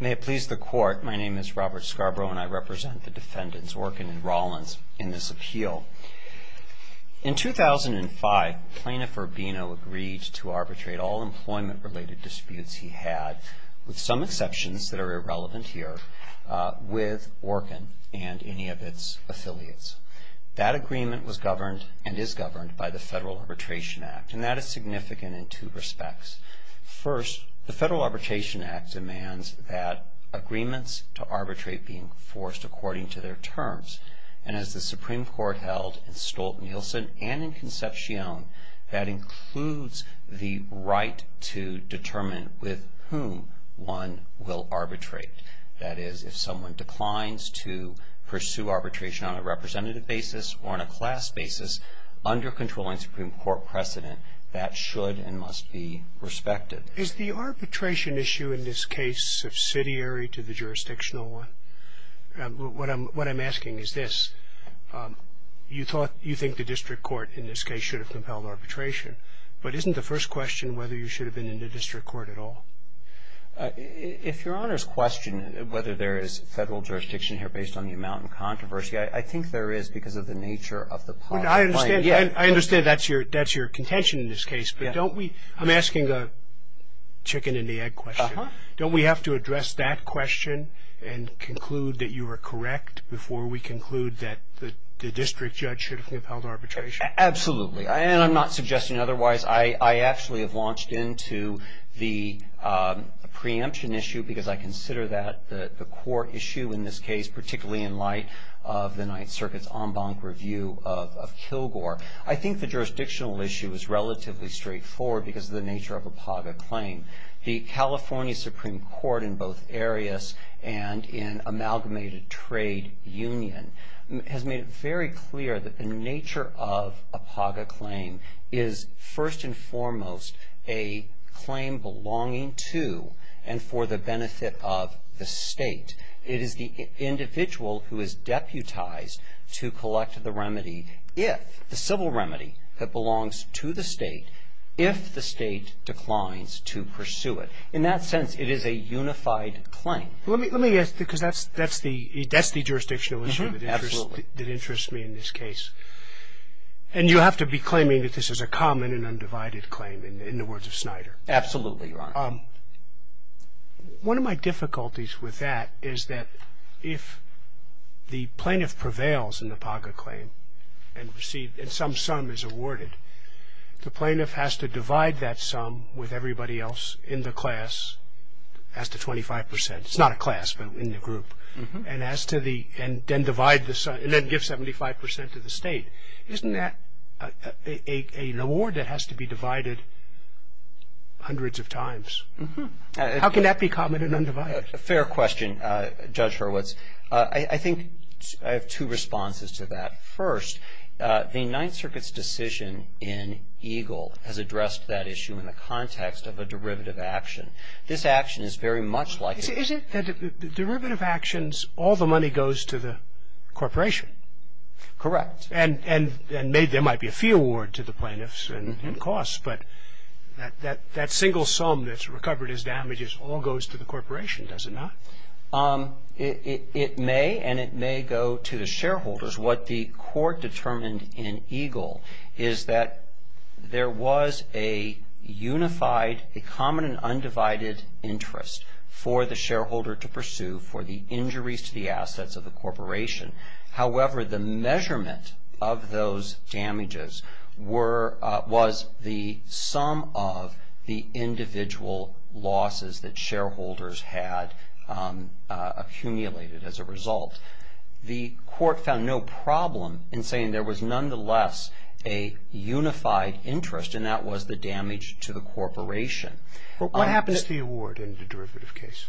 May it please the Court, my name is Robert Scarborough and I represent the Defendants Orkin and Rollins in this appeal. In 2005, Plaintiff Urbino agreed to arbitrate all employment-related disputes he had, with some exceptions that are irrelevant here, with Orkin and any of its affiliates. That agreement was governed, and is governed, by the Federal Arbitration Act, and that is significant in two respects. First, the Federal Arbitration Act demands that agreements to arbitrate be enforced according to their terms. And as the Supreme Court held in Stolt-Nielsen and in Concepcion, that includes the right to determine with whom one will arbitrate. That is, if someone declines to pursue arbitration on a representative basis or on a class basis, under controlling Supreme Court precedent, that should and must be respected. Is the arbitration issue in this case subsidiary to the jurisdictional one? What I'm asking is this, you thought, you think the District Court in this case should have compelled arbitration, but isn't the first question whether you should have been in the District Court at all? If Your Honor's questioning whether there is Federal jurisdiction here based on the amount of controversy, I think there is, because of the nature of the problem. I understand that's your contention in this case, but don't we, I'm asking a chicken-and-the-egg question. Don't we have to address that question and conclude that you are correct, before we conclude that the District Judge should have compelled arbitration? Absolutely, and I'm not suggesting otherwise. I actually have launched into the preemption issue, because I consider that the core issue in this case, particularly in light of the Ninth Circuit's en banc review of Kilgore, I think the jurisdictional issue is relatively straightforward, because of the nature of APAGA claim. The California Supreme Court, in both areas and in amalgamated trade union, has made it very clear that the nature of APAGA claim is, first and foremost, a claim belonging to and for the benefit of the State. It is the individual who is deputized to collect the remedy, if the civil remedy that belongs to the State, if the State declines to pursue it. In that sense, it is a unified claim. Let me ask, because that's the jurisdictional issue that interests me in this case. And you have to be claiming that this is a common and undivided claim, in the words of Snyder. Absolutely, Your Honor. One of my difficulties with that is that if the plaintiff prevails in the APAGA claim, and some sum is awarded, the plaintiff has to divide that sum with everybody else in the class as to 25 percent. It's not a class, but in the group. And then divide the sum, and then give 75 percent to the State. Isn't that an award that has to be divided hundreds of times? How can that be common and undivided? Fair question, Judge Hurwitz. I think I have two responses to that. First, the Ninth Circuit's decision in EGLE has addressed that issue in the context of a derivative action. This action is very much like a ---- Is it that the derivative actions, all the money goes to the corporation? Correct. And there might be a fee award to the plaintiffs and costs, but that single sum that's recovered as damages all goes to the corporation, does it not? It may, and it may go to the shareholders. What the Court determined in EGLE is that there was a unified, a common and undivided interest for the shareholder to pursue for the injuries to the assets of the corporation. However, the measurement of those damages was the sum of the individual losses that shareholders had accumulated as a result. The Court found no problem in saying there was nonetheless a unified interest, and that was the damage to the corporation. What happens to the award in the derivative case?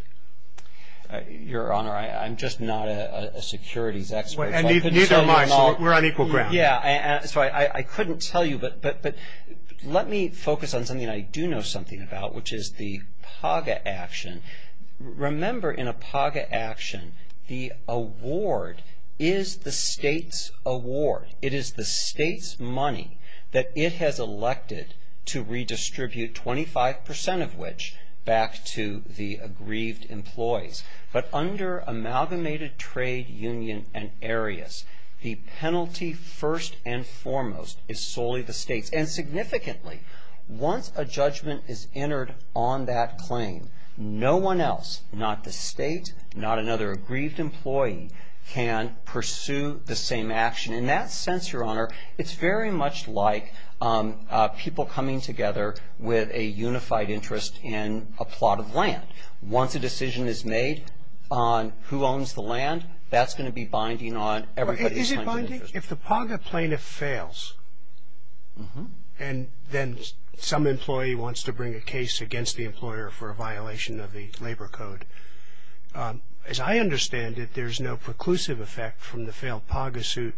Your Honor, I'm just not a securities expert. Neither am I, so we're on equal ground. I couldn't tell you, but let me focus on something I do know something about, which is the PAGA action. Remember, in a PAGA action, the award is the state's award. It is the state's money that it has elected to redistribute, 25 percent of which back to the aggrieved employees. But under amalgamated trade union and areas, the penalty first and foremost is solely the state's. And significantly, once a judgment is entered on that claim, no one else, not the state, not another aggrieved employee, can pursue the same action. In that sense, Your Honor, it's very much like people coming together with a unified interest in a plot of land. Once a decision is made on who owns the land, that's going to be binding on everybody's time and interest. Is it binding? If the PAGA plaintiff fails, and then some employee wants to bring a case against the employer for a violation of the labor code, as I understand it, there's no preclusive effect from the failed PAGA suit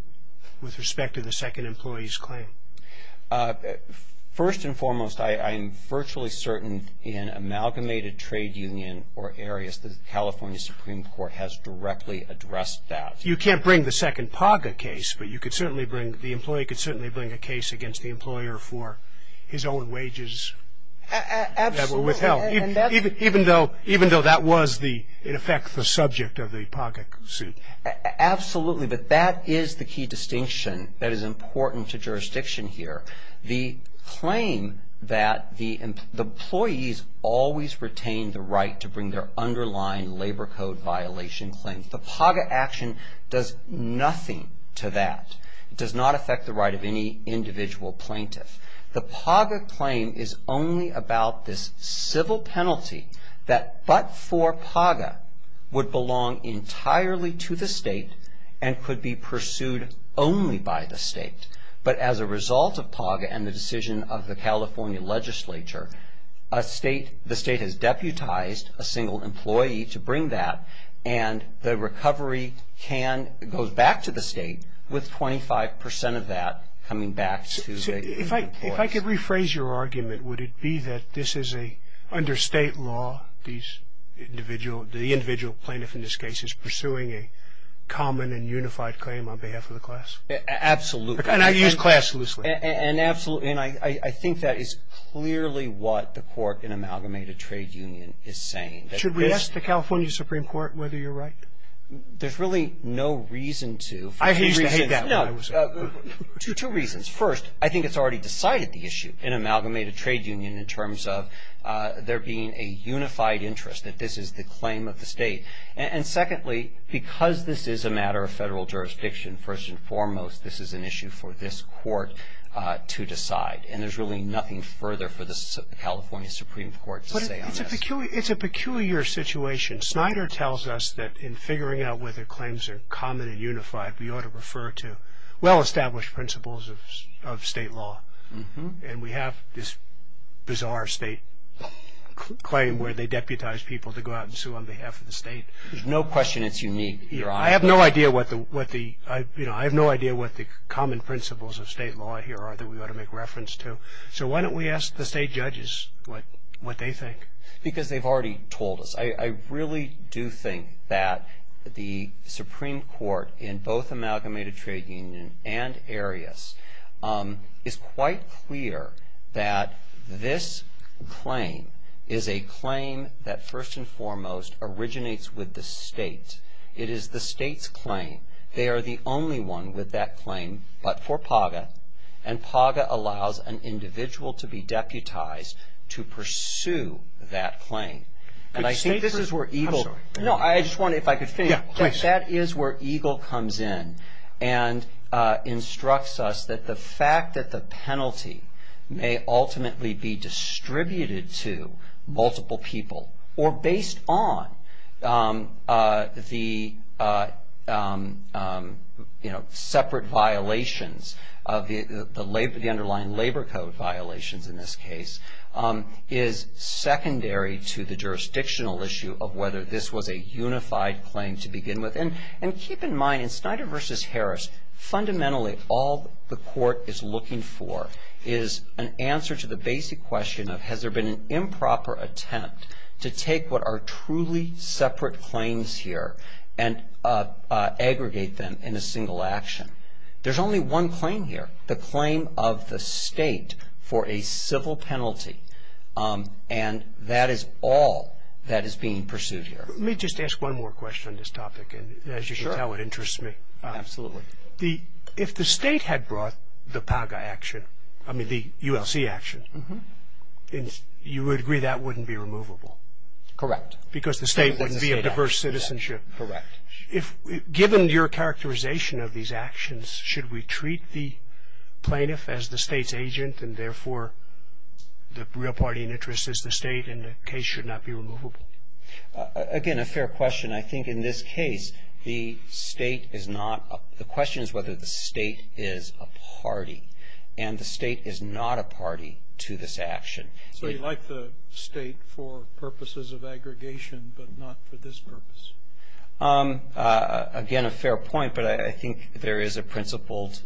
with respect to the second employee's claim. First and foremost, I am virtually certain in amalgamated trade union or areas, the California Supreme Court has directly addressed that. You can't bring the second PAGA case, but you could certainly bring, the employee could certainly bring a case against the employer for his own wages. Absolutely. Even though that was, in effect, the subject of the PAGA suit. Absolutely, but that is the key distinction that is important to jurisdiction here. The claim that the employees always retain the right to bring their underlying labor code violation claims, the PAGA action does nothing to that. It does not affect the right of any individual plaintiff. First, the PAGA claim is only about this civil penalty that, but for PAGA, would belong entirely to the state and could be pursued only by the state. But as a result of PAGA and the decision of the California legislature, the state has deputized a single employee to bring that, and the recovery goes back to the state with 25% of that coming back to the employees. If I could rephrase your argument, would it be that this is under state law, the individual plaintiff in this case is pursuing a common and unified claim on behalf of the class? Absolutely. And I use class loosely. And I think that is clearly what the court in amalgamated trade union is saying. Should we ask the California Supreme Court whether you're right? There's really no reason to. I used to hate that when I was a kid. Two reasons. First, I think it's already decided the issue in amalgamated trade union in terms of there being a unified interest, that this is the claim of the state. And secondly, because this is a matter of federal jurisdiction, first and foremost, this is an issue for this court to decide. And there's really nothing further for the California Supreme Court to say on this. It's a peculiar situation. Snyder tells us that in figuring out whether claims are common and unified, we ought to refer to well-established principles of state law. And we have this bizarre state claim where they deputize people to go out and sue on behalf of the state. There's no question it's unique. I have no idea what the common principles of state law here are that we ought to make reference to. So why don't we ask the state judges what they think? Because they've already told us. I really do think that the Supreme Court in both amalgamated trade union and Arias is quite clear that this claim is a claim that first and foremost originates with the state. It is the state's claim. And PAGA allows an individual to be deputized to pursue that claim. And I think this is where EGLE. I'm sorry. No, I just wondered if I could finish. Yeah, please. That is where EGLE comes in and instructs us that the fact that the penalty may ultimately be distributed to multiple people or based on the, you know, separate violations of the underlying labor code violations in this case is secondary to the jurisdictional issue of whether this was a unified claim to begin with. And keep in mind, in Snyder v. Harris, fundamentally all the court is looking for is an answer to the basic question of has there been an improper attempt to take what are truly separate claims here and aggregate them in a single action. There's only one claim here, the claim of the state for a civil penalty. And that is all that is being pursued here. Let me just ask one more question on this topic. And as you can tell, it interests me. Absolutely. If the state had brought the PAGA action, I mean the ULC action, you would agree that wouldn't be removable. Correct. Because the state wouldn't be a diverse citizenship. Correct. Given your characterization of these actions, should we treat the plaintiff as the state's agent and therefore the real party in interest is the state and the case should not be removable? Again, a fair question. I think in this case, the question is whether the state is a party. And the state is not a party to this action. So you like the state for purposes of aggregation but not for this purpose? Again, a fair point. But I think there is a principled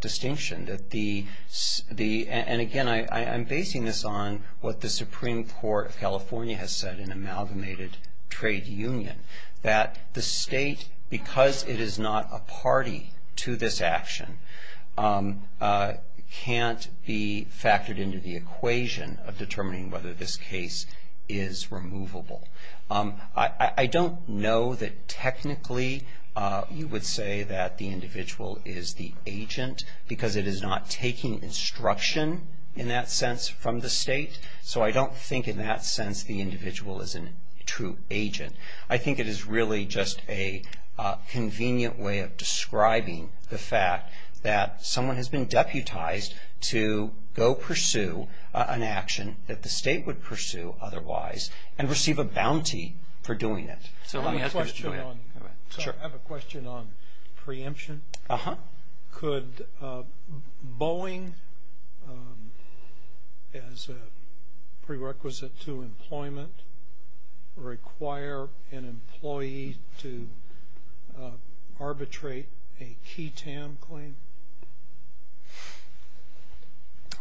distinction. And again, I'm basing this on what the Supreme Court of California has said in Amalgamated Trade Union, that the state, because it is not a party to this action, can't be factored into the equation of determining whether this case is removable. I don't know that technically you would say that the individual is the agent because it is not taking instruction in that sense from the state. So I don't think in that sense the individual is a true agent. I think it is really just a convenient way of describing the fact that someone has been deputized to go pursue an action that the state would pursue otherwise and receive a bounty for doing it. I have a question on preemption. Could Boeing, as a prerequisite to employment, require an employee to arbitrate a QTAM claim?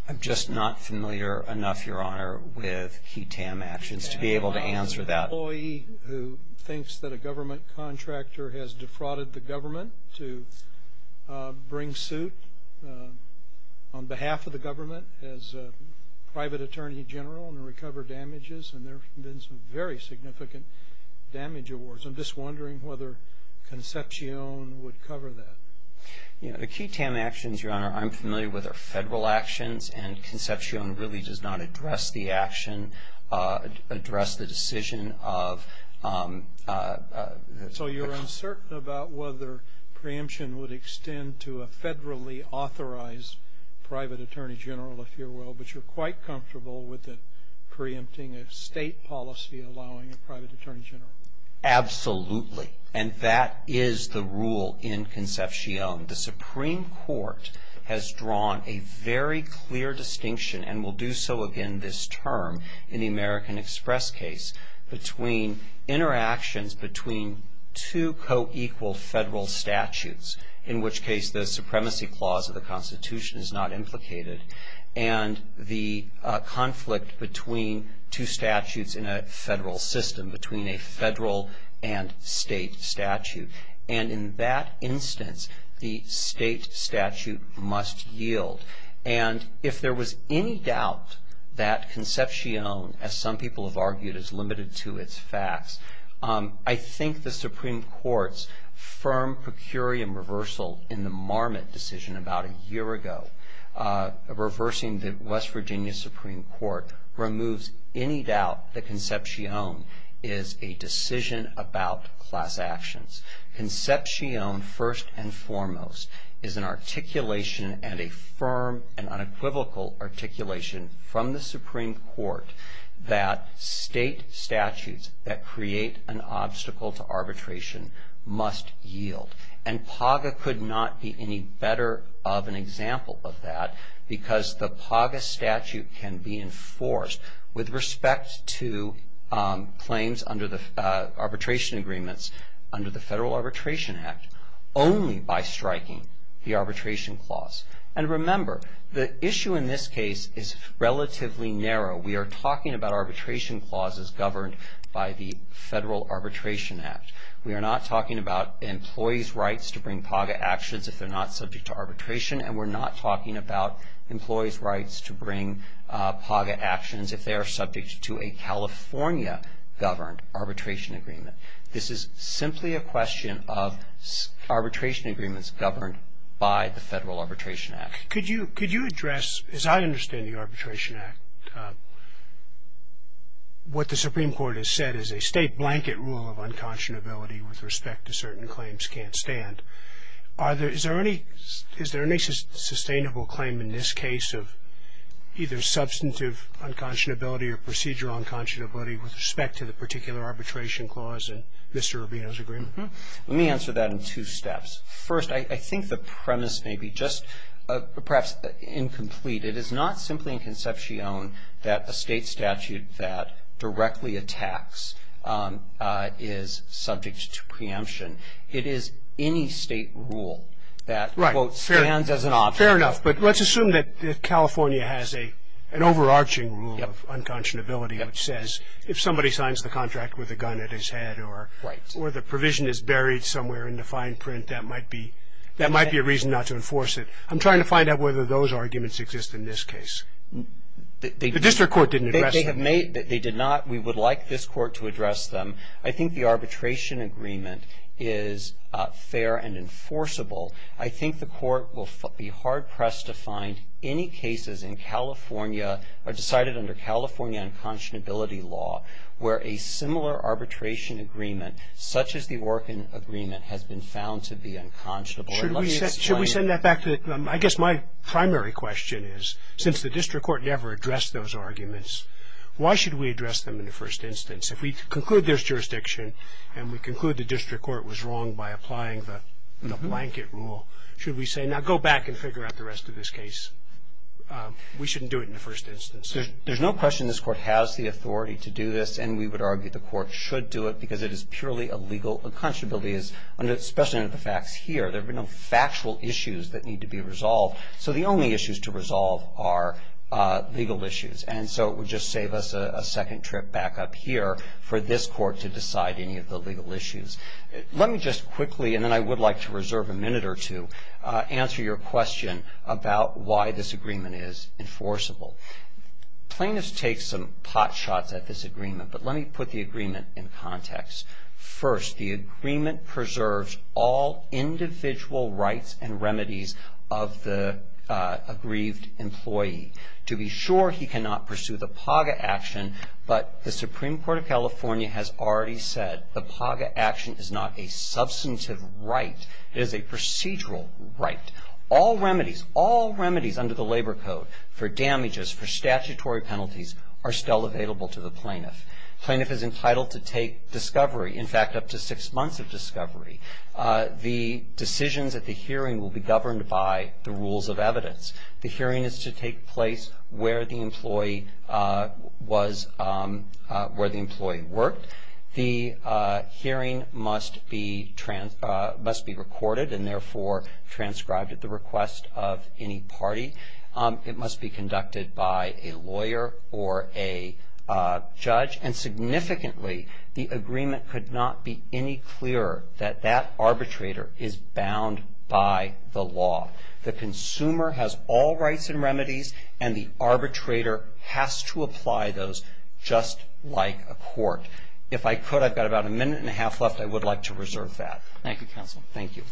I'm just not familiar enough, Your Honor, with QTAM actions to be able to answer that. An employee who thinks that a government contractor has defrauded the government to bring suit on behalf of the government as a private attorney general and recover damages, and there have been some very significant damage awards. I'm just wondering whether Concepcion would cover that. The QTAM actions, Your Honor, I'm familiar with are federal actions, and Concepcion really does not address the action, address the decision of... So you're uncertain about whether preemption would extend to a federally authorized private attorney general, if you will, but you're quite comfortable with it, preempting a state policy allowing a private attorney general. Absolutely. And that is the rule in Concepcion. The Supreme Court has drawn a very clear distinction, and will do so again this term in the American Express case, between interactions between two co-equal federal statutes, in which case the supremacy clause of the Constitution is not implicated, and the conflict between two statutes in a federal system, between a federal and state statute. And in that instance, the state statute must yield. And if there was any doubt that Concepcion, as some people have argued, is limited to its facts, I think the Supreme Court's firm per curiam reversal in the Marmot decision about a year ago, reversing the West Virginia Supreme Court, removes any doubt that Concepcion is a decision about class actions. Concepcion, first and foremost, is an articulation, and a firm and unequivocal articulation from the Supreme Court, that state statutes that create an obstacle to arbitration must yield. And PAGA could not be any better of an example of that, because the PAGA statute can be enforced with respect to claims under the arbitration agreements under the Federal Arbitration Act only by striking the arbitration clause. And remember, the issue in this case is relatively narrow. We are talking about arbitration clauses governed by the Federal Arbitration Act. We are not talking about employees' rights to bring PAGA actions if they're not subject to arbitration, and we're not talking about employees' rights to bring PAGA actions if they are subject to a California-governed arbitration agreement. This is simply a question of arbitration agreements governed by the Federal Arbitration Act. Could you address, as I understand the Arbitration Act, what the Supreme Court has said is a state blanket rule of unconscionability with respect to certain claims can't stand. Is there any sustainable claim in this case of either substantive unconscionability or procedural unconscionability with respect to the particular arbitration clause in Mr. Rubino's agreement? Let me answer that in two steps. First, I think the premise may be just perhaps incomplete. It is not simply a conception that a state statute that directly attacks is subject to preemption. It is any state rule that, quote, stands as an option. Fair enough, but let's assume that California has an overarching rule of unconscionability which says if somebody signs the contract with a gun at his head or the provision is buried somewhere in the fine print, that might be a reason not to enforce it. I'm trying to find out whether those arguments exist in this case. The district court didn't address that. They did not. We would like this court to address them. I think the arbitration agreement is fair and enforceable. I think the court will be hard-pressed to find any cases in California or decided under California unconscionability law where a similar arbitration agreement such as the Orkin agreement has been found to be unconscionable. And let me explain it. Should we send that back to the group? I guess my primary question is since the district court never addressed those arguments, why should we address them in the first instance? If we conclude there's jurisdiction and we conclude the district court was wrong by applying the blanket rule, should we say now go back and figure out the rest of this case? We shouldn't do it in the first instance. There's no question this court has the authority to do this, and we would argue the court should do it because it is purely a legal unconscionability, especially under the facts here. There are no factual issues that need to be resolved. So the only issues to resolve are legal issues. And so it would just save us a second trip back up here for this court to decide any of the legal issues. Let me just quickly, and then I would like to reserve a minute or two, answer your question about why this agreement is enforceable. Plaintiffs take some pot shots at this agreement, but let me put the agreement in context. First, the agreement preserves all individual rights and remedies of the aggrieved employee. To be sure, he cannot pursue the PAGA action, but the Supreme Court of California has already said the PAGA action is not a substantive right. It is a procedural right. All remedies, all remedies under the Labor Code for damages, for statutory penalties are still available to the plaintiff. The plaintiff is entitled to take discovery, in fact, up to six months of discovery. The decisions at the hearing will be governed by the rules of evidence. The hearing is to take place where the employee worked. The hearing must be recorded and therefore transcribed at the request of any party. It must be conducted by a lawyer or a judge. And significantly, the agreement could not be any clearer that that arbitrator is bound by the law. The consumer has all rights and remedies, and the arbitrator has to apply those just like a court. If I could, I've got about a minute and a half left. I would like to reserve that. Thank you, counsel. Boutrous. Thank you.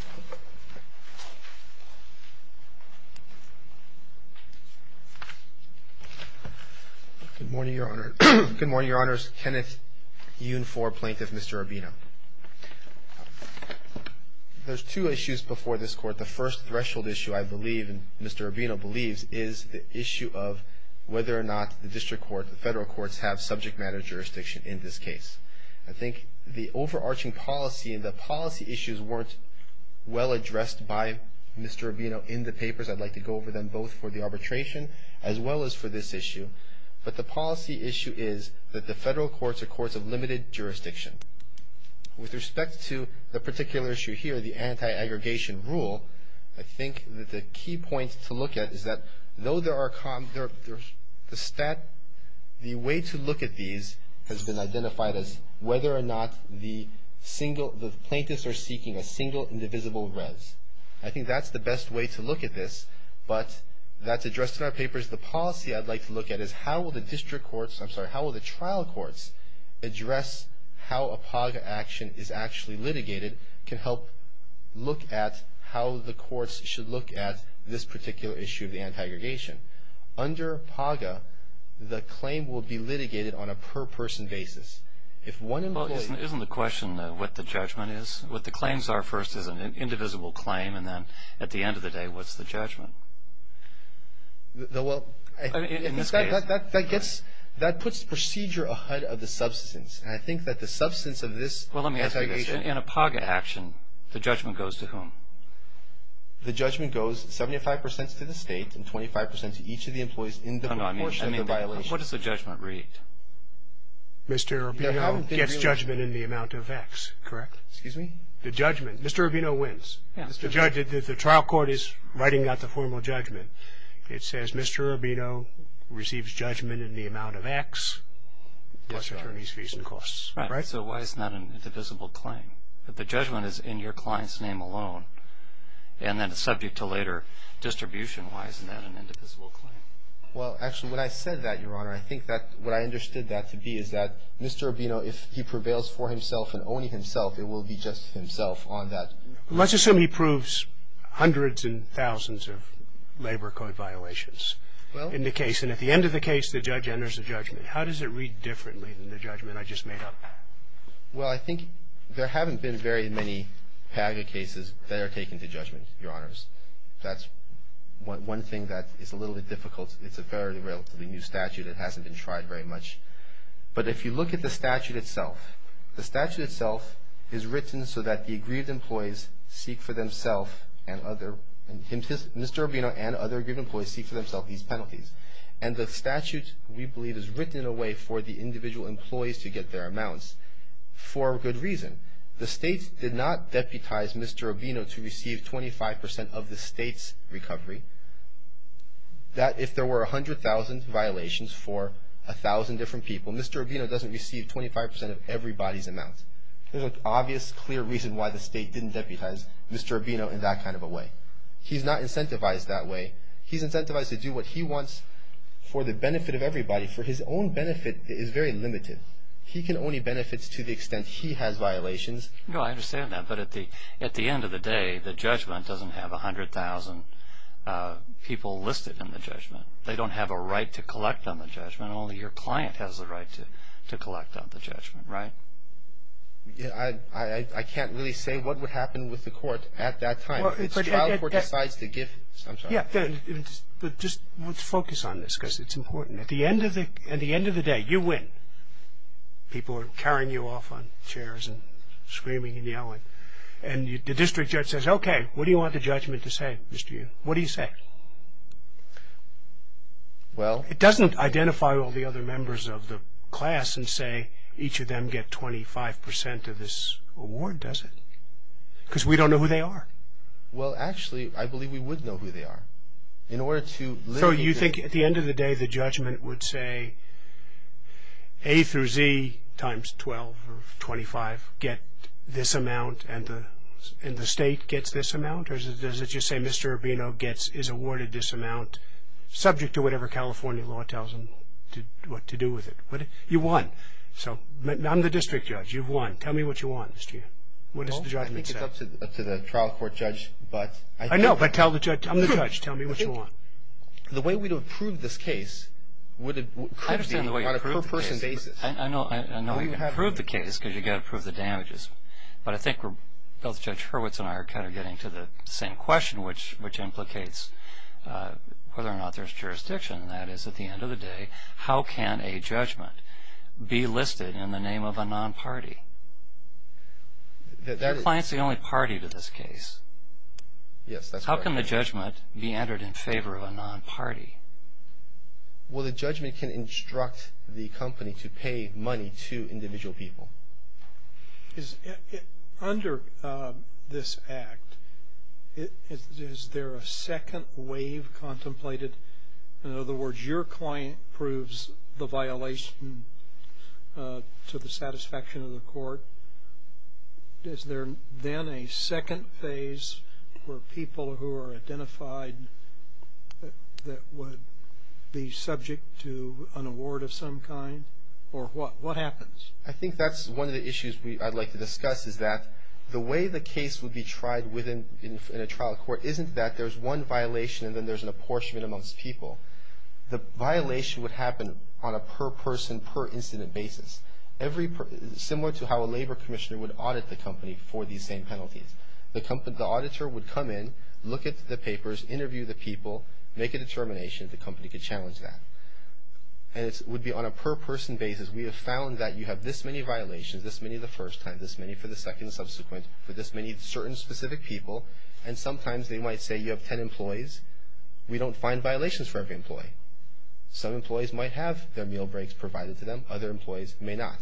Good morning, Your Honor. Good morning, Your Honors. Kenneth Yun for Plaintiff, Mr. Urbino. There's two issues before this Court. The first threshold issue, I believe, and Mr. Urbino believes, is the issue of whether or not the district court, the federal courts, have subject matter jurisdiction in this case. I think the overarching policy and the policy issues weren't well addressed by Mr. Urbino in the papers. I'd like to go over them both for the arbitration as well as for this issue. But the policy issue is that the federal courts are courts of limited jurisdiction. With respect to the particular issue here, the anti-aggregation rule, I think that the key point to look at is that the way to look at these has been identified as whether or not the plaintiffs are seeking a single indivisible res. I think that's the best way to look at this, but that's addressed in our papers. The policy I'd like to look at is how will the district courts, I'm sorry, how will the trial courts address how a PAGA action is actually litigated can help look at how the courts should look at this particular issue of the anti-aggregation. Under PAGA, the claim will be litigated on a per-person basis. If one employee- Well, isn't the question what the judgment is? What the claims are first is an indivisible claim, and then at the end of the day, what's the judgment? Well, in this case- That puts the procedure ahead of the substance, and I think that the substance of this- Well, let me ask you this. In a PAGA action, the judgment goes to whom? The judgment goes 75 percent to the State and 25 percent to each of the employees in the proportion of the violation. What does the judgment read? Mr. Urbino gets judgment in the amount of X, correct? Excuse me? The judgment. Mr. Urbino wins. The trial court is writing out the formal judgment. It says Mr. Urbino receives judgment in the amount of X, plus attorney's fees and costs. Right. So why isn't that an indivisible claim? If the judgment is in your client's name alone, and then subject to later distribution, why isn't that an indivisible claim? Well, actually, when I said that, Your Honor, I think that what I understood that to be is that Mr. Urbino, if he prevails for himself and only himself, it will be just himself on that. Let's assume he proves hundreds and thousands of labor code violations in the case. And at the end of the case, the judge enters a judgment. How does it read differently than the judgment I just made up? Well, I think there haven't been very many PAGA cases that are taken to judgment, Your Honors. That's one thing that is a little bit difficult. It's a fairly relatively new statute. It hasn't been tried very much. But if you look at the statute itself, the statute itself is written so that the aggrieved employees seek for themselves and Mr. Urbino and other aggrieved employees seek for themselves these penalties. And the statute, we believe, is written in a way for the individual employees to get their amounts for a good reason. The state did not deputize Mr. Urbino to receive 25 percent of the state's recovery. If there were 100,000 violations for 1,000 different people, Mr. Urbino doesn't receive 25 percent of everybody's amount. There's an obvious, clear reason why the state didn't deputize Mr. Urbino in that kind of a way. He's not incentivized that way. He's incentivized to do what he wants for the benefit of everybody. For his own benefit, it is very limited. He can only benefit to the extent he has violations. No, I understand that. But at the end of the day, the judgment doesn't have 100,000 people listed in the judgment. They don't have a right to collect on the judgment. Only your client has the right to collect on the judgment, right? I can't really say what would happen with the court at that time. If the child court decides to give some sort of- Yeah, but just let's focus on this because it's important. At the end of the day, you win. People are carrying you off on chairs and screaming and yelling. And the district judge says, okay, what do you want the judgment to say, Mr. Urbino? What do you say? Well- It doesn't identify all the other members of the class and say each of them get 25% of this award, does it? Because we don't know who they are. Well, actually, I believe we would know who they are. In order to- So you think at the end of the day, the judgment would say A through Z times 12 or 25 get this amount and the state gets this amount? Or does it just say Mr. Urbino is awarded this amount subject to whatever California law tells him what to do with it? You won. So I'm the district judge. You've won. Tell me what you want, Mr. Chair. What does the judgment say? I think it's up to the trial court judge, but- I know, but tell the judge. I'm the judge. Tell me what you want. The way we would approve this case would be on a per-person basis. I know you approved the case because you've got to approve the damages, but I think both Judge Hurwitz and I are kind of getting to the same question, which implicates whether or not there's jurisdiction. That is, at the end of the day, how can a judgment be listed in the name of a non-party? The client's the only party to this case. Yes, that's correct. How can the judgment be entered in favor of a non-party? Well, the judgment can instruct the company to pay money to individual people. Under this act, is there a second wave contemplated? In other words, your client proves the violation to the satisfaction of the court. Is there then a second phase where people who are identified that would be subject to an award of some kind? Or what happens? I think that's one of the issues I'd like to discuss, is that the way the case would be tried in a trial court isn't that there's one violation and then there's an apportionment amongst people. The violation would happen on a per-person, per-incident basis. Similar to how a labor commissioner would audit the company for these same penalties. The auditor would come in, look at the papers, interview the people, make a determination. The company could challenge that. And it would be on a per-person basis. We have found that you have this many violations, this many the first time, this many for the second and subsequent, for this many certain specific people. And sometimes they might say you have 10 employees. We don't find violations for every employee. Some employees might have their meal breaks provided to them. Other employees may not.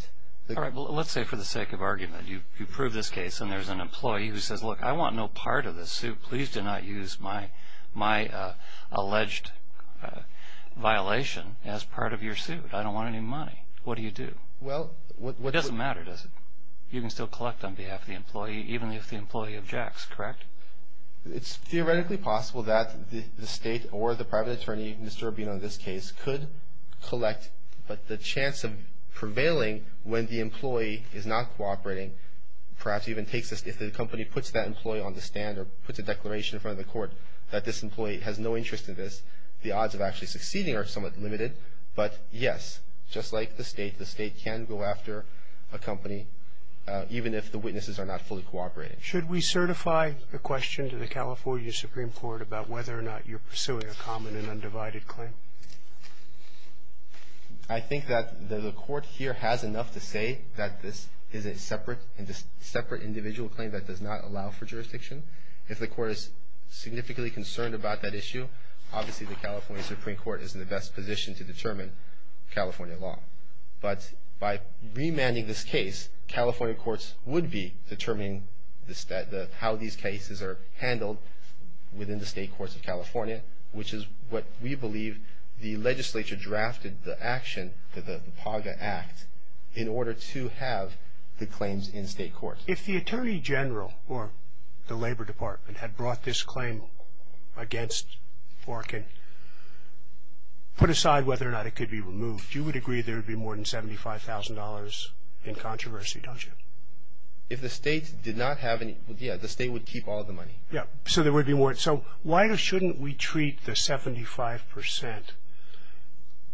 All right. Well, let's say for the sake of argument, you prove this case and there's an employee who says, look, I want no part of this suit. Please do not use my alleged violation as part of your suit. I don't want any money. What do you do? Well, what do you do? It doesn't matter, does it? You can still collect on behalf of the employee, even if the employee objects, correct? It's theoretically possible that the state or the private attorney, Mr. Rubino in this case, could collect, but the chance of prevailing when the employee is not cooperating, perhaps even takes this, if the company puts that employee on the stand or puts a declaration in front of the court that this employee has no interest in this, the odds of actually succeeding are somewhat limited. But, yes, just like the state, the state can go after a company, even if the witnesses are not fully cooperating. Should we certify the question to the California Supreme Court about whether or not you're pursuing a common and undivided claim? I think that the court here has enough to say that this is a separate individual claim that does not allow for jurisdiction. If the court is significantly concerned about that issue, obviously the California Supreme Court is in the best position to determine California law. But by remanding this case, California courts would be determining how these cases are handled within the state courts of California, which is what we believe the legislature drafted the action, the PAGA Act, in order to have the claims in state courts. If the Attorney General or the Labor Department had brought this claim against Orkin, put aside whether or not it could be removed, you would agree there would be more than $75,000 in controversy, don't you? If the state did not have any, yes, the state would keep all the money. Yes, so there would be more. So why shouldn't we treat the 75%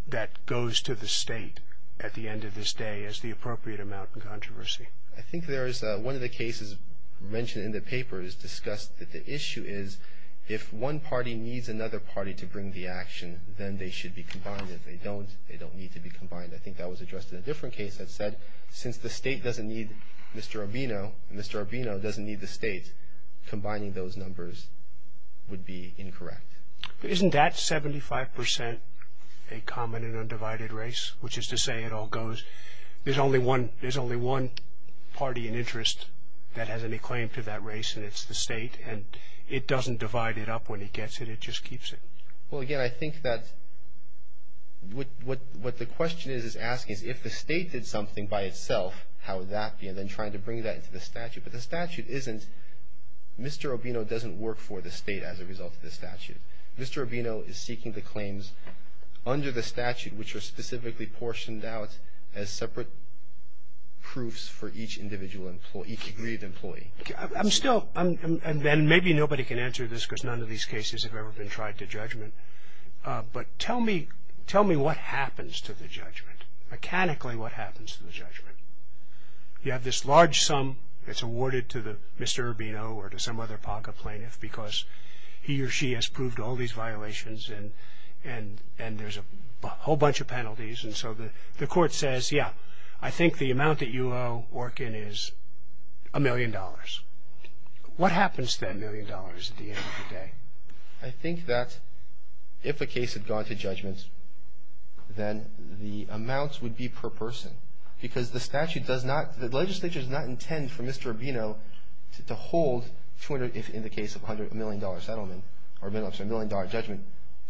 that goes to the state at the end of this day as the appropriate amount in controversy? I think there is one of the cases mentioned in the paper is discussed that the issue is if one party needs another party to bring the action, then they should be combined. If they don't, they don't need to be combined. I think that was addressed in a different case that said, since the state doesn't need Mr. Urbino, Mr. Urbino doesn't need the state, combining those numbers would be incorrect. Isn't that 75% a common and undivided race, which is to say it all goes, there's only one party in interest that has any claim to that race, and it's the state, and it doesn't divide it up when it gets it. It just keeps it. Well, again, I think that what the question is asking is if the state did something by itself, how would that be? And then trying to bring that into the statute, but the statute isn't, Mr. Urbino doesn't work for the state as a result of the statute. Mr. Urbino is seeking the claims under the statute, which are specifically portioned out as separate proofs for each individual employee, each agreed employee. I'm still, and maybe nobody can answer this because none of these cases have ever been tried to judgment, but tell me what happens to the judgment. Mechanically, what happens to the judgment? You have this large sum that's awarded to Mr. Urbino or to some other POCA plaintiff because he or she has proved all these violations, and there's a whole bunch of penalties. And so the court says, yeah, I think the amount that you owe Orkin is a million dollars. What happens to that million dollars at the end of the day? I think that if a case had gone to judgment, then the amounts would be per person because the statute does not, the legislature does not intend for Mr. Urbino to hold, if in the case of a million-dollar settlement or a million-dollar judgment,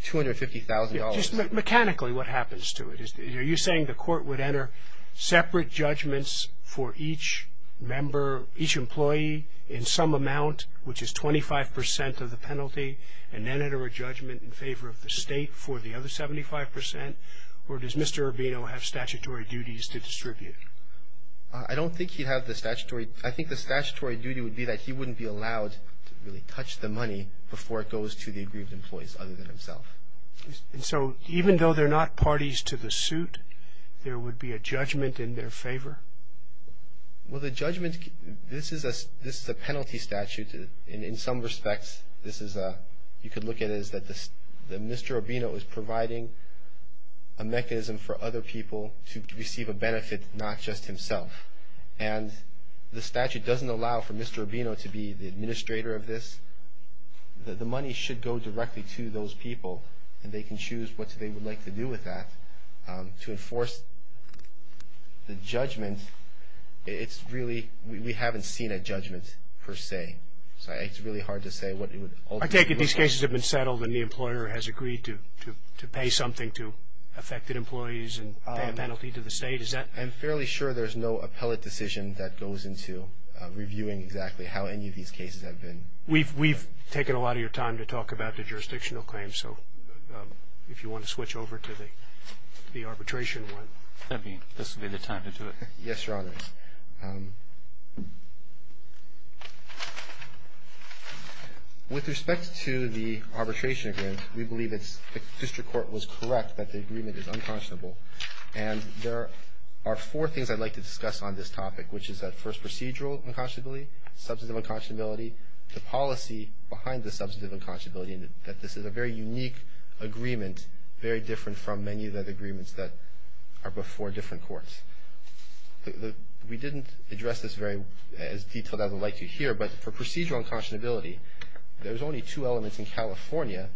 $250,000. Just mechanically what happens to it? Are you saying the court would enter separate judgments for each member, each employee in some amount, which is 25 percent of the penalty, and then enter a judgment in favor of the state for the other 75 percent? Or does Mr. Urbino have statutory duties to distribute? I don't think he'd have the statutory. I think the statutory duty would be that he wouldn't be allowed to really touch the money before it goes to the aggrieved employees other than himself. And so even though they're not parties to the suit, there would be a judgment in their favor? Well, the judgment, this is a penalty statute in some respects. This is a, you could look at it as that Mr. Urbino is providing a mechanism for other people to receive a benefit, not just himself. And the statute doesn't allow for Mr. Urbino to be the administrator of this. The money should go directly to those people, and they can choose what they would like to do with that. To enforce the judgment, it's really, we haven't seen a judgment per se. So it's really hard to say what it would ultimately look like. I take it these cases have been settled and the employer has agreed to pay something to affected employees and pay a penalty to the state? I'm fairly sure there's no appellate decision that goes into reviewing exactly how any of these cases have been. We've taken a lot of your time to talk about the jurisdictional claims, so if you want to switch over to the arbitration one. That would be the time to do it. Yes, Your Honor. With respect to the arbitration agreement, we believe the district court was correct that the agreement is unconscionable. And there are four things I'd like to discuss on this topic, which is that first procedural unconscionability, substantive unconscionability, the policy behind the substantive unconscionability, and that this is a very unique agreement, very different from many of the other agreements that are before different courts. We didn't address this as detailed as I'd like to here, but for procedural unconscionability, there's only two elements in California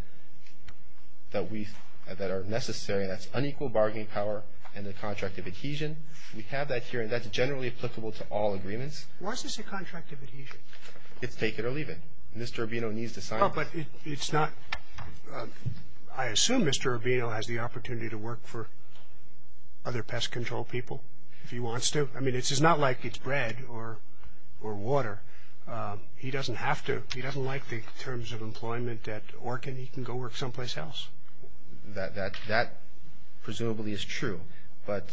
that are necessary, and that's unequal bargaining power and the contract of adhesion. We have that here, and that's generally applicable to all agreements. Why is this a contract of adhesion? It's take it or leave it. Mr. Urbino needs to sign it. No, but it's not. I assume Mr. Urbino has the opportunity to work for other pest control people if he wants to. I mean, it's not like it's bread or water. He doesn't have to. He doesn't like the terms of employment at Orkin. He can go work someplace else. That presumably is true, but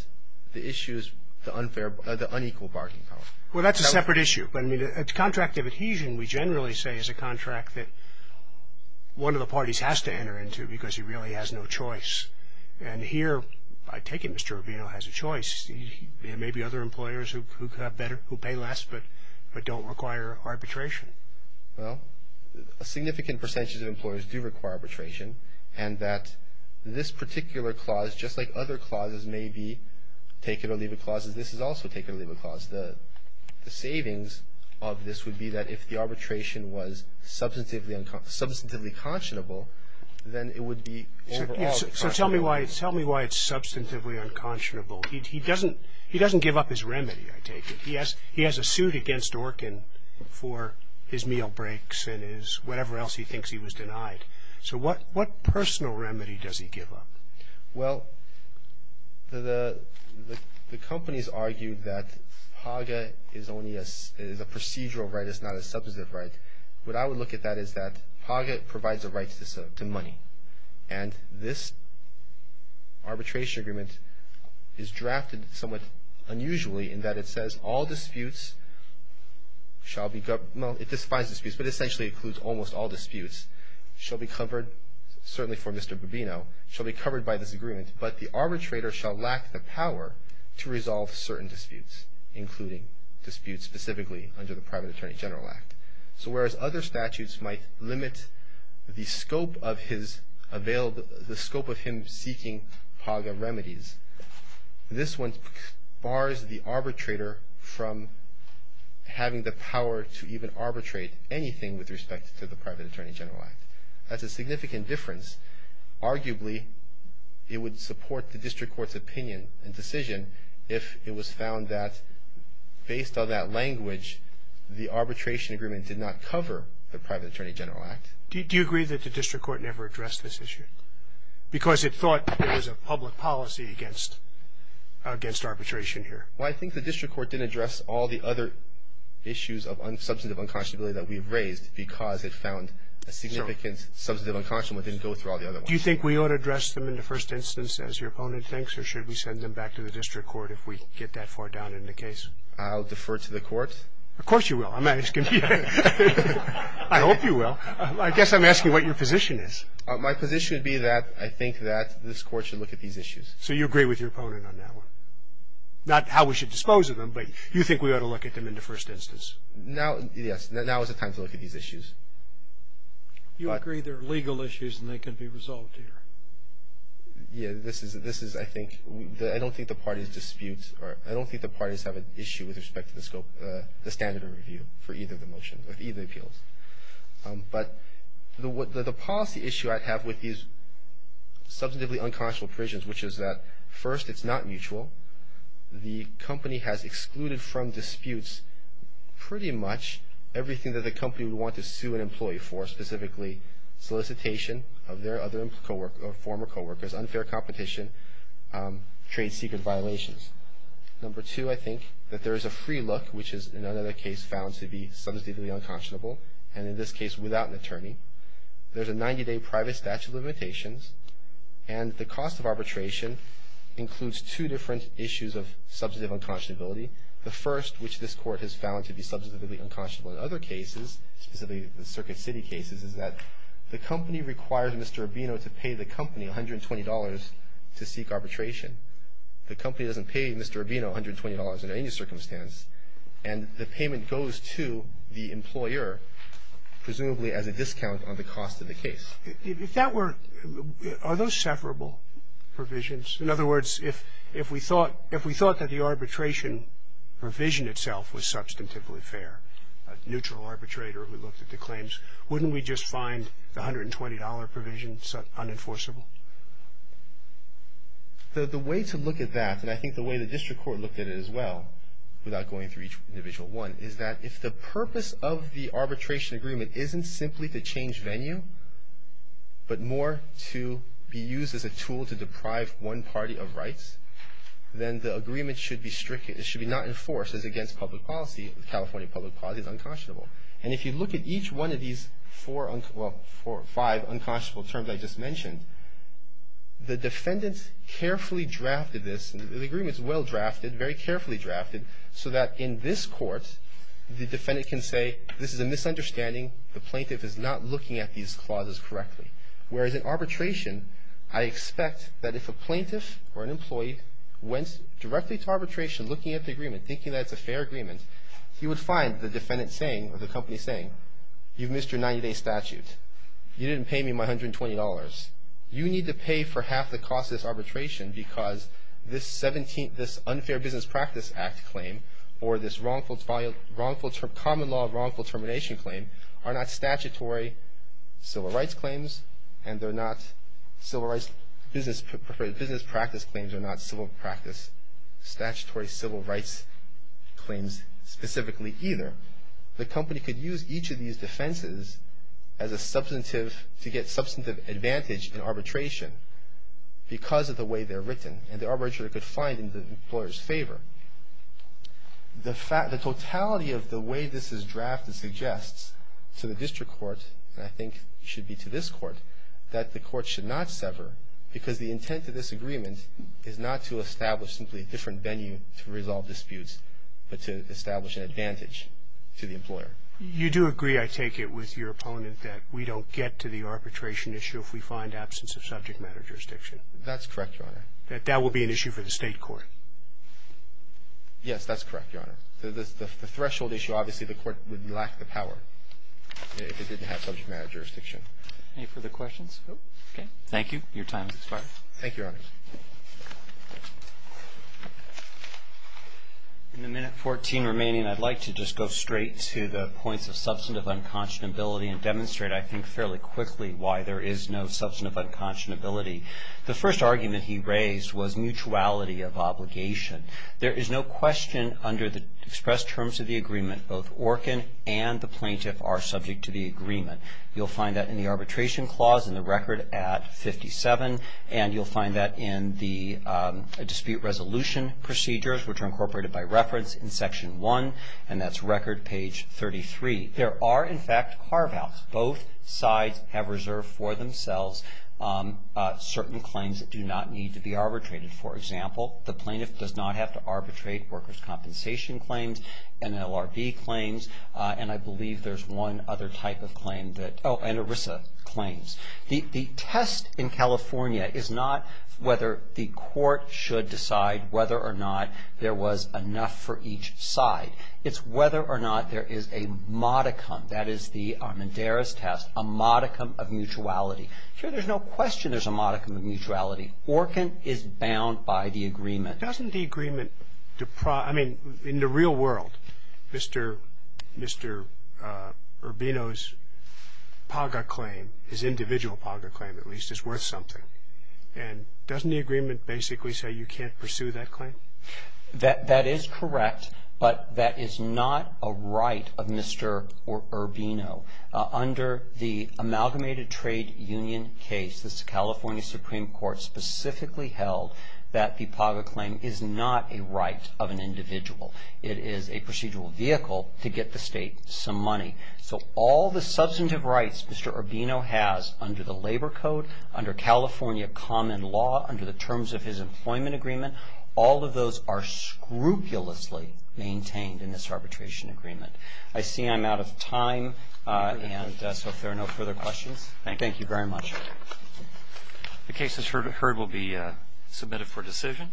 the issue is the unequal bargaining power. Well, that's a separate issue. I mean, a contract of adhesion, we generally say, is a contract that one of the parties has to enter into because he really has no choice. And here, I take it Mr. Urbino has a choice. There may be other employers who pay less but don't require arbitration. Well, a significant percentage of employers do require arbitration, and that this particular clause, just like other clauses may be take it or leave it clauses, this is also take it or leave it clause. The savings of this would be that if the arbitration was substantively conscionable, then it would be overall. So tell me why it's substantively unconscionable. He doesn't give up his remedy, I take it. He has a suit against Orkin for his meal breaks and whatever else he thinks he was denied. So what personal remedy does he give up? Well, the companies argue that PAGA is only a procedural right, it's not a substantive right. What I would look at that is that PAGA provides a right to money, and this arbitration agreement is drafted somewhat unusually in that it says all disputes shall be, well, it defines disputes, but it essentially includes almost all disputes, shall be covered, certainly for Mr. Bobino, shall be covered by this agreement, but the arbitrator shall lack the power to resolve certain disputes, including disputes specifically under the Private Attorney General Act. So whereas other statutes might limit the scope of his available, the scope of him seeking PAGA remedies, this one bars the arbitrator from having the power to even arbitrate anything with respect to the Private Attorney General Act. That's a significant difference. Arguably, it would support the district court's opinion and decision if it was found that, based on that language, the arbitration agreement did not cover the Private Attorney General Act. Do you agree that the district court never addressed this issue? Because it thought it was a public policy against arbitration here. Well, I think the district court didn't address all the other issues of substantive unconscionability that we've raised because it found a significant substantive unconscionable that didn't go through all the other ones. Do you think we ought to address them in the first instance, as your opponent thinks, or should we send them back to the district court if we get that far down in the case? I'll defer to the court. Of course you will. I'm asking you. I hope you will. I guess I'm asking what your position is. My position would be that I think that this court should look at these issues. So you agree with your opponent on that one? Not how we should dispose of them, but you think we ought to look at them in the first instance? Yes. Now is the time to look at these issues. You agree they're legal issues and they can be resolved here? Yes. This is, I think, I don't think the parties dispute, or I don't think the parties have an issue with respect to the standard of review for either of the motions, of either of the appeals. But the policy issue I have with these substantively unconscionable provisions, which is that, first, it's not mutual. The company has excluded from disputes pretty much everything that the company would want to sue an employee for, specifically solicitation of their other former coworkers, unfair competition, trade secret violations. Number two, I think that there is a free look, which is in another case found to be substantively unconscionable, and in this case without an attorney. There's a 90-day private statute of limitations. And the cost of arbitration includes two different issues of substantive unconscionability. The first, which this Court has found to be substantively unconscionable in other cases, specifically the Circuit City cases, is that the company requires Mr. Urbino to pay the company $120 to seek arbitration. The company doesn't pay Mr. Urbino $120 under any circumstance. And the payment goes to the employer, presumably as a discount on the cost of the case. If that were – are those separable provisions? In other words, if we thought that the arbitration provision itself was substantively fair, a neutral arbitrator who looked at the claims, wouldn't we just find the $120 provision unenforceable? The way to look at that, and I think the way the district court looked at it as well, without going through each individual one, is that if the purpose of the arbitration agreement isn't simply to change venue, but more to be used as a tool to deprive one party of rights, then the agreement should be strict. It should be not enforced as against public policy. California public policy is unconscionable. And if you look at each one of these four – well, five unconscionable terms I just mentioned, the defendants carefully drafted this. The agreement is well drafted, very carefully drafted, so that in this court the defendant can say, this is a misunderstanding, the plaintiff is not looking at these clauses correctly. Whereas in arbitration, I expect that if a plaintiff or an employee went directly to arbitration looking at the agreement, thinking that it's a fair agreement, he would find the defendant saying, or the company saying, you've missed your 90-day statute. You didn't pay me my $120. You need to pay for half the cost of this arbitration because this Unfair Business Practice Act claim, or this common law wrongful termination claim, are not statutory civil rights claims, and they're not civil rights business practice claims, they're not civil practice statutory civil rights claims specifically either. The company could use each of these defenses to get substantive advantage in arbitration because of the way they're written, and the arbitrator could find it in the employer's favor. The totality of the way this is drafted suggests to the district court, and I think should be to this court, that the court should not sever because the intent of this agreement is not to establish simply a different venue to resolve disputes, but to establish an advantage to the employer. You do agree, I take it, with your opponent that we don't get to the arbitration issue if we find absence of subject matter jurisdiction? That's correct, Your Honor. That that will be an issue for the state court? Yes, that's correct, Your Honor. The threshold issue, obviously, the court would lack the power if it didn't have subject matter jurisdiction. Okay. Thank you. Your time has expired. Thank you, Your Honor. In the minute 14 remaining, I'd like to just go straight to the points of substantive unconscionability and demonstrate, I think, fairly quickly why there is no substantive unconscionability. The first argument he raised was mutuality of obligation. There is no question under the expressed terms of the agreement both Orkin and the plaintiff are subject to the agreement. You'll find that in the arbitration clause in the record at 57, and you'll find that in the dispute resolution procedures, which are incorporated by reference in Section 1, and that's record page 33. There are, in fact, carve-outs. Both sides have reserved for themselves certain claims that do not need to be arbitrated. For example, the plaintiff does not have to arbitrate workers' compensation claims and LRB claims, and I believe there's one other type of claim that Oh, and ERISA claims. The test in California is not whether the court should decide whether or not there was enough for each side. It's whether or not there is a modicum. That is the Armendariz test, a modicum of mutuality. Sure, there's no question there's a modicum of mutuality. Orkin is bound by the agreement. Doesn't the agreement deprive – I mean, in the real world, Mr. Urbino's PAGA claim, his individual PAGA claim at least, is worth something. And doesn't the agreement basically say you can't pursue that claim? That is correct, but that is not a right of Mr. Urbino. Under the Amalgamated Trade Union case, the California Supreme Court specifically held that the PAGA claim is not a right of an individual. It is a procedural vehicle to get the state some money. So all the substantive rights Mr. Urbino has under the Labor Code, under California common law, under the terms of his employment agreement, all of those are scrupulously maintained in this arbitration agreement. I see I'm out of time, and so if there are no further questions. Thank you very much. The case as heard will be submitted for decision.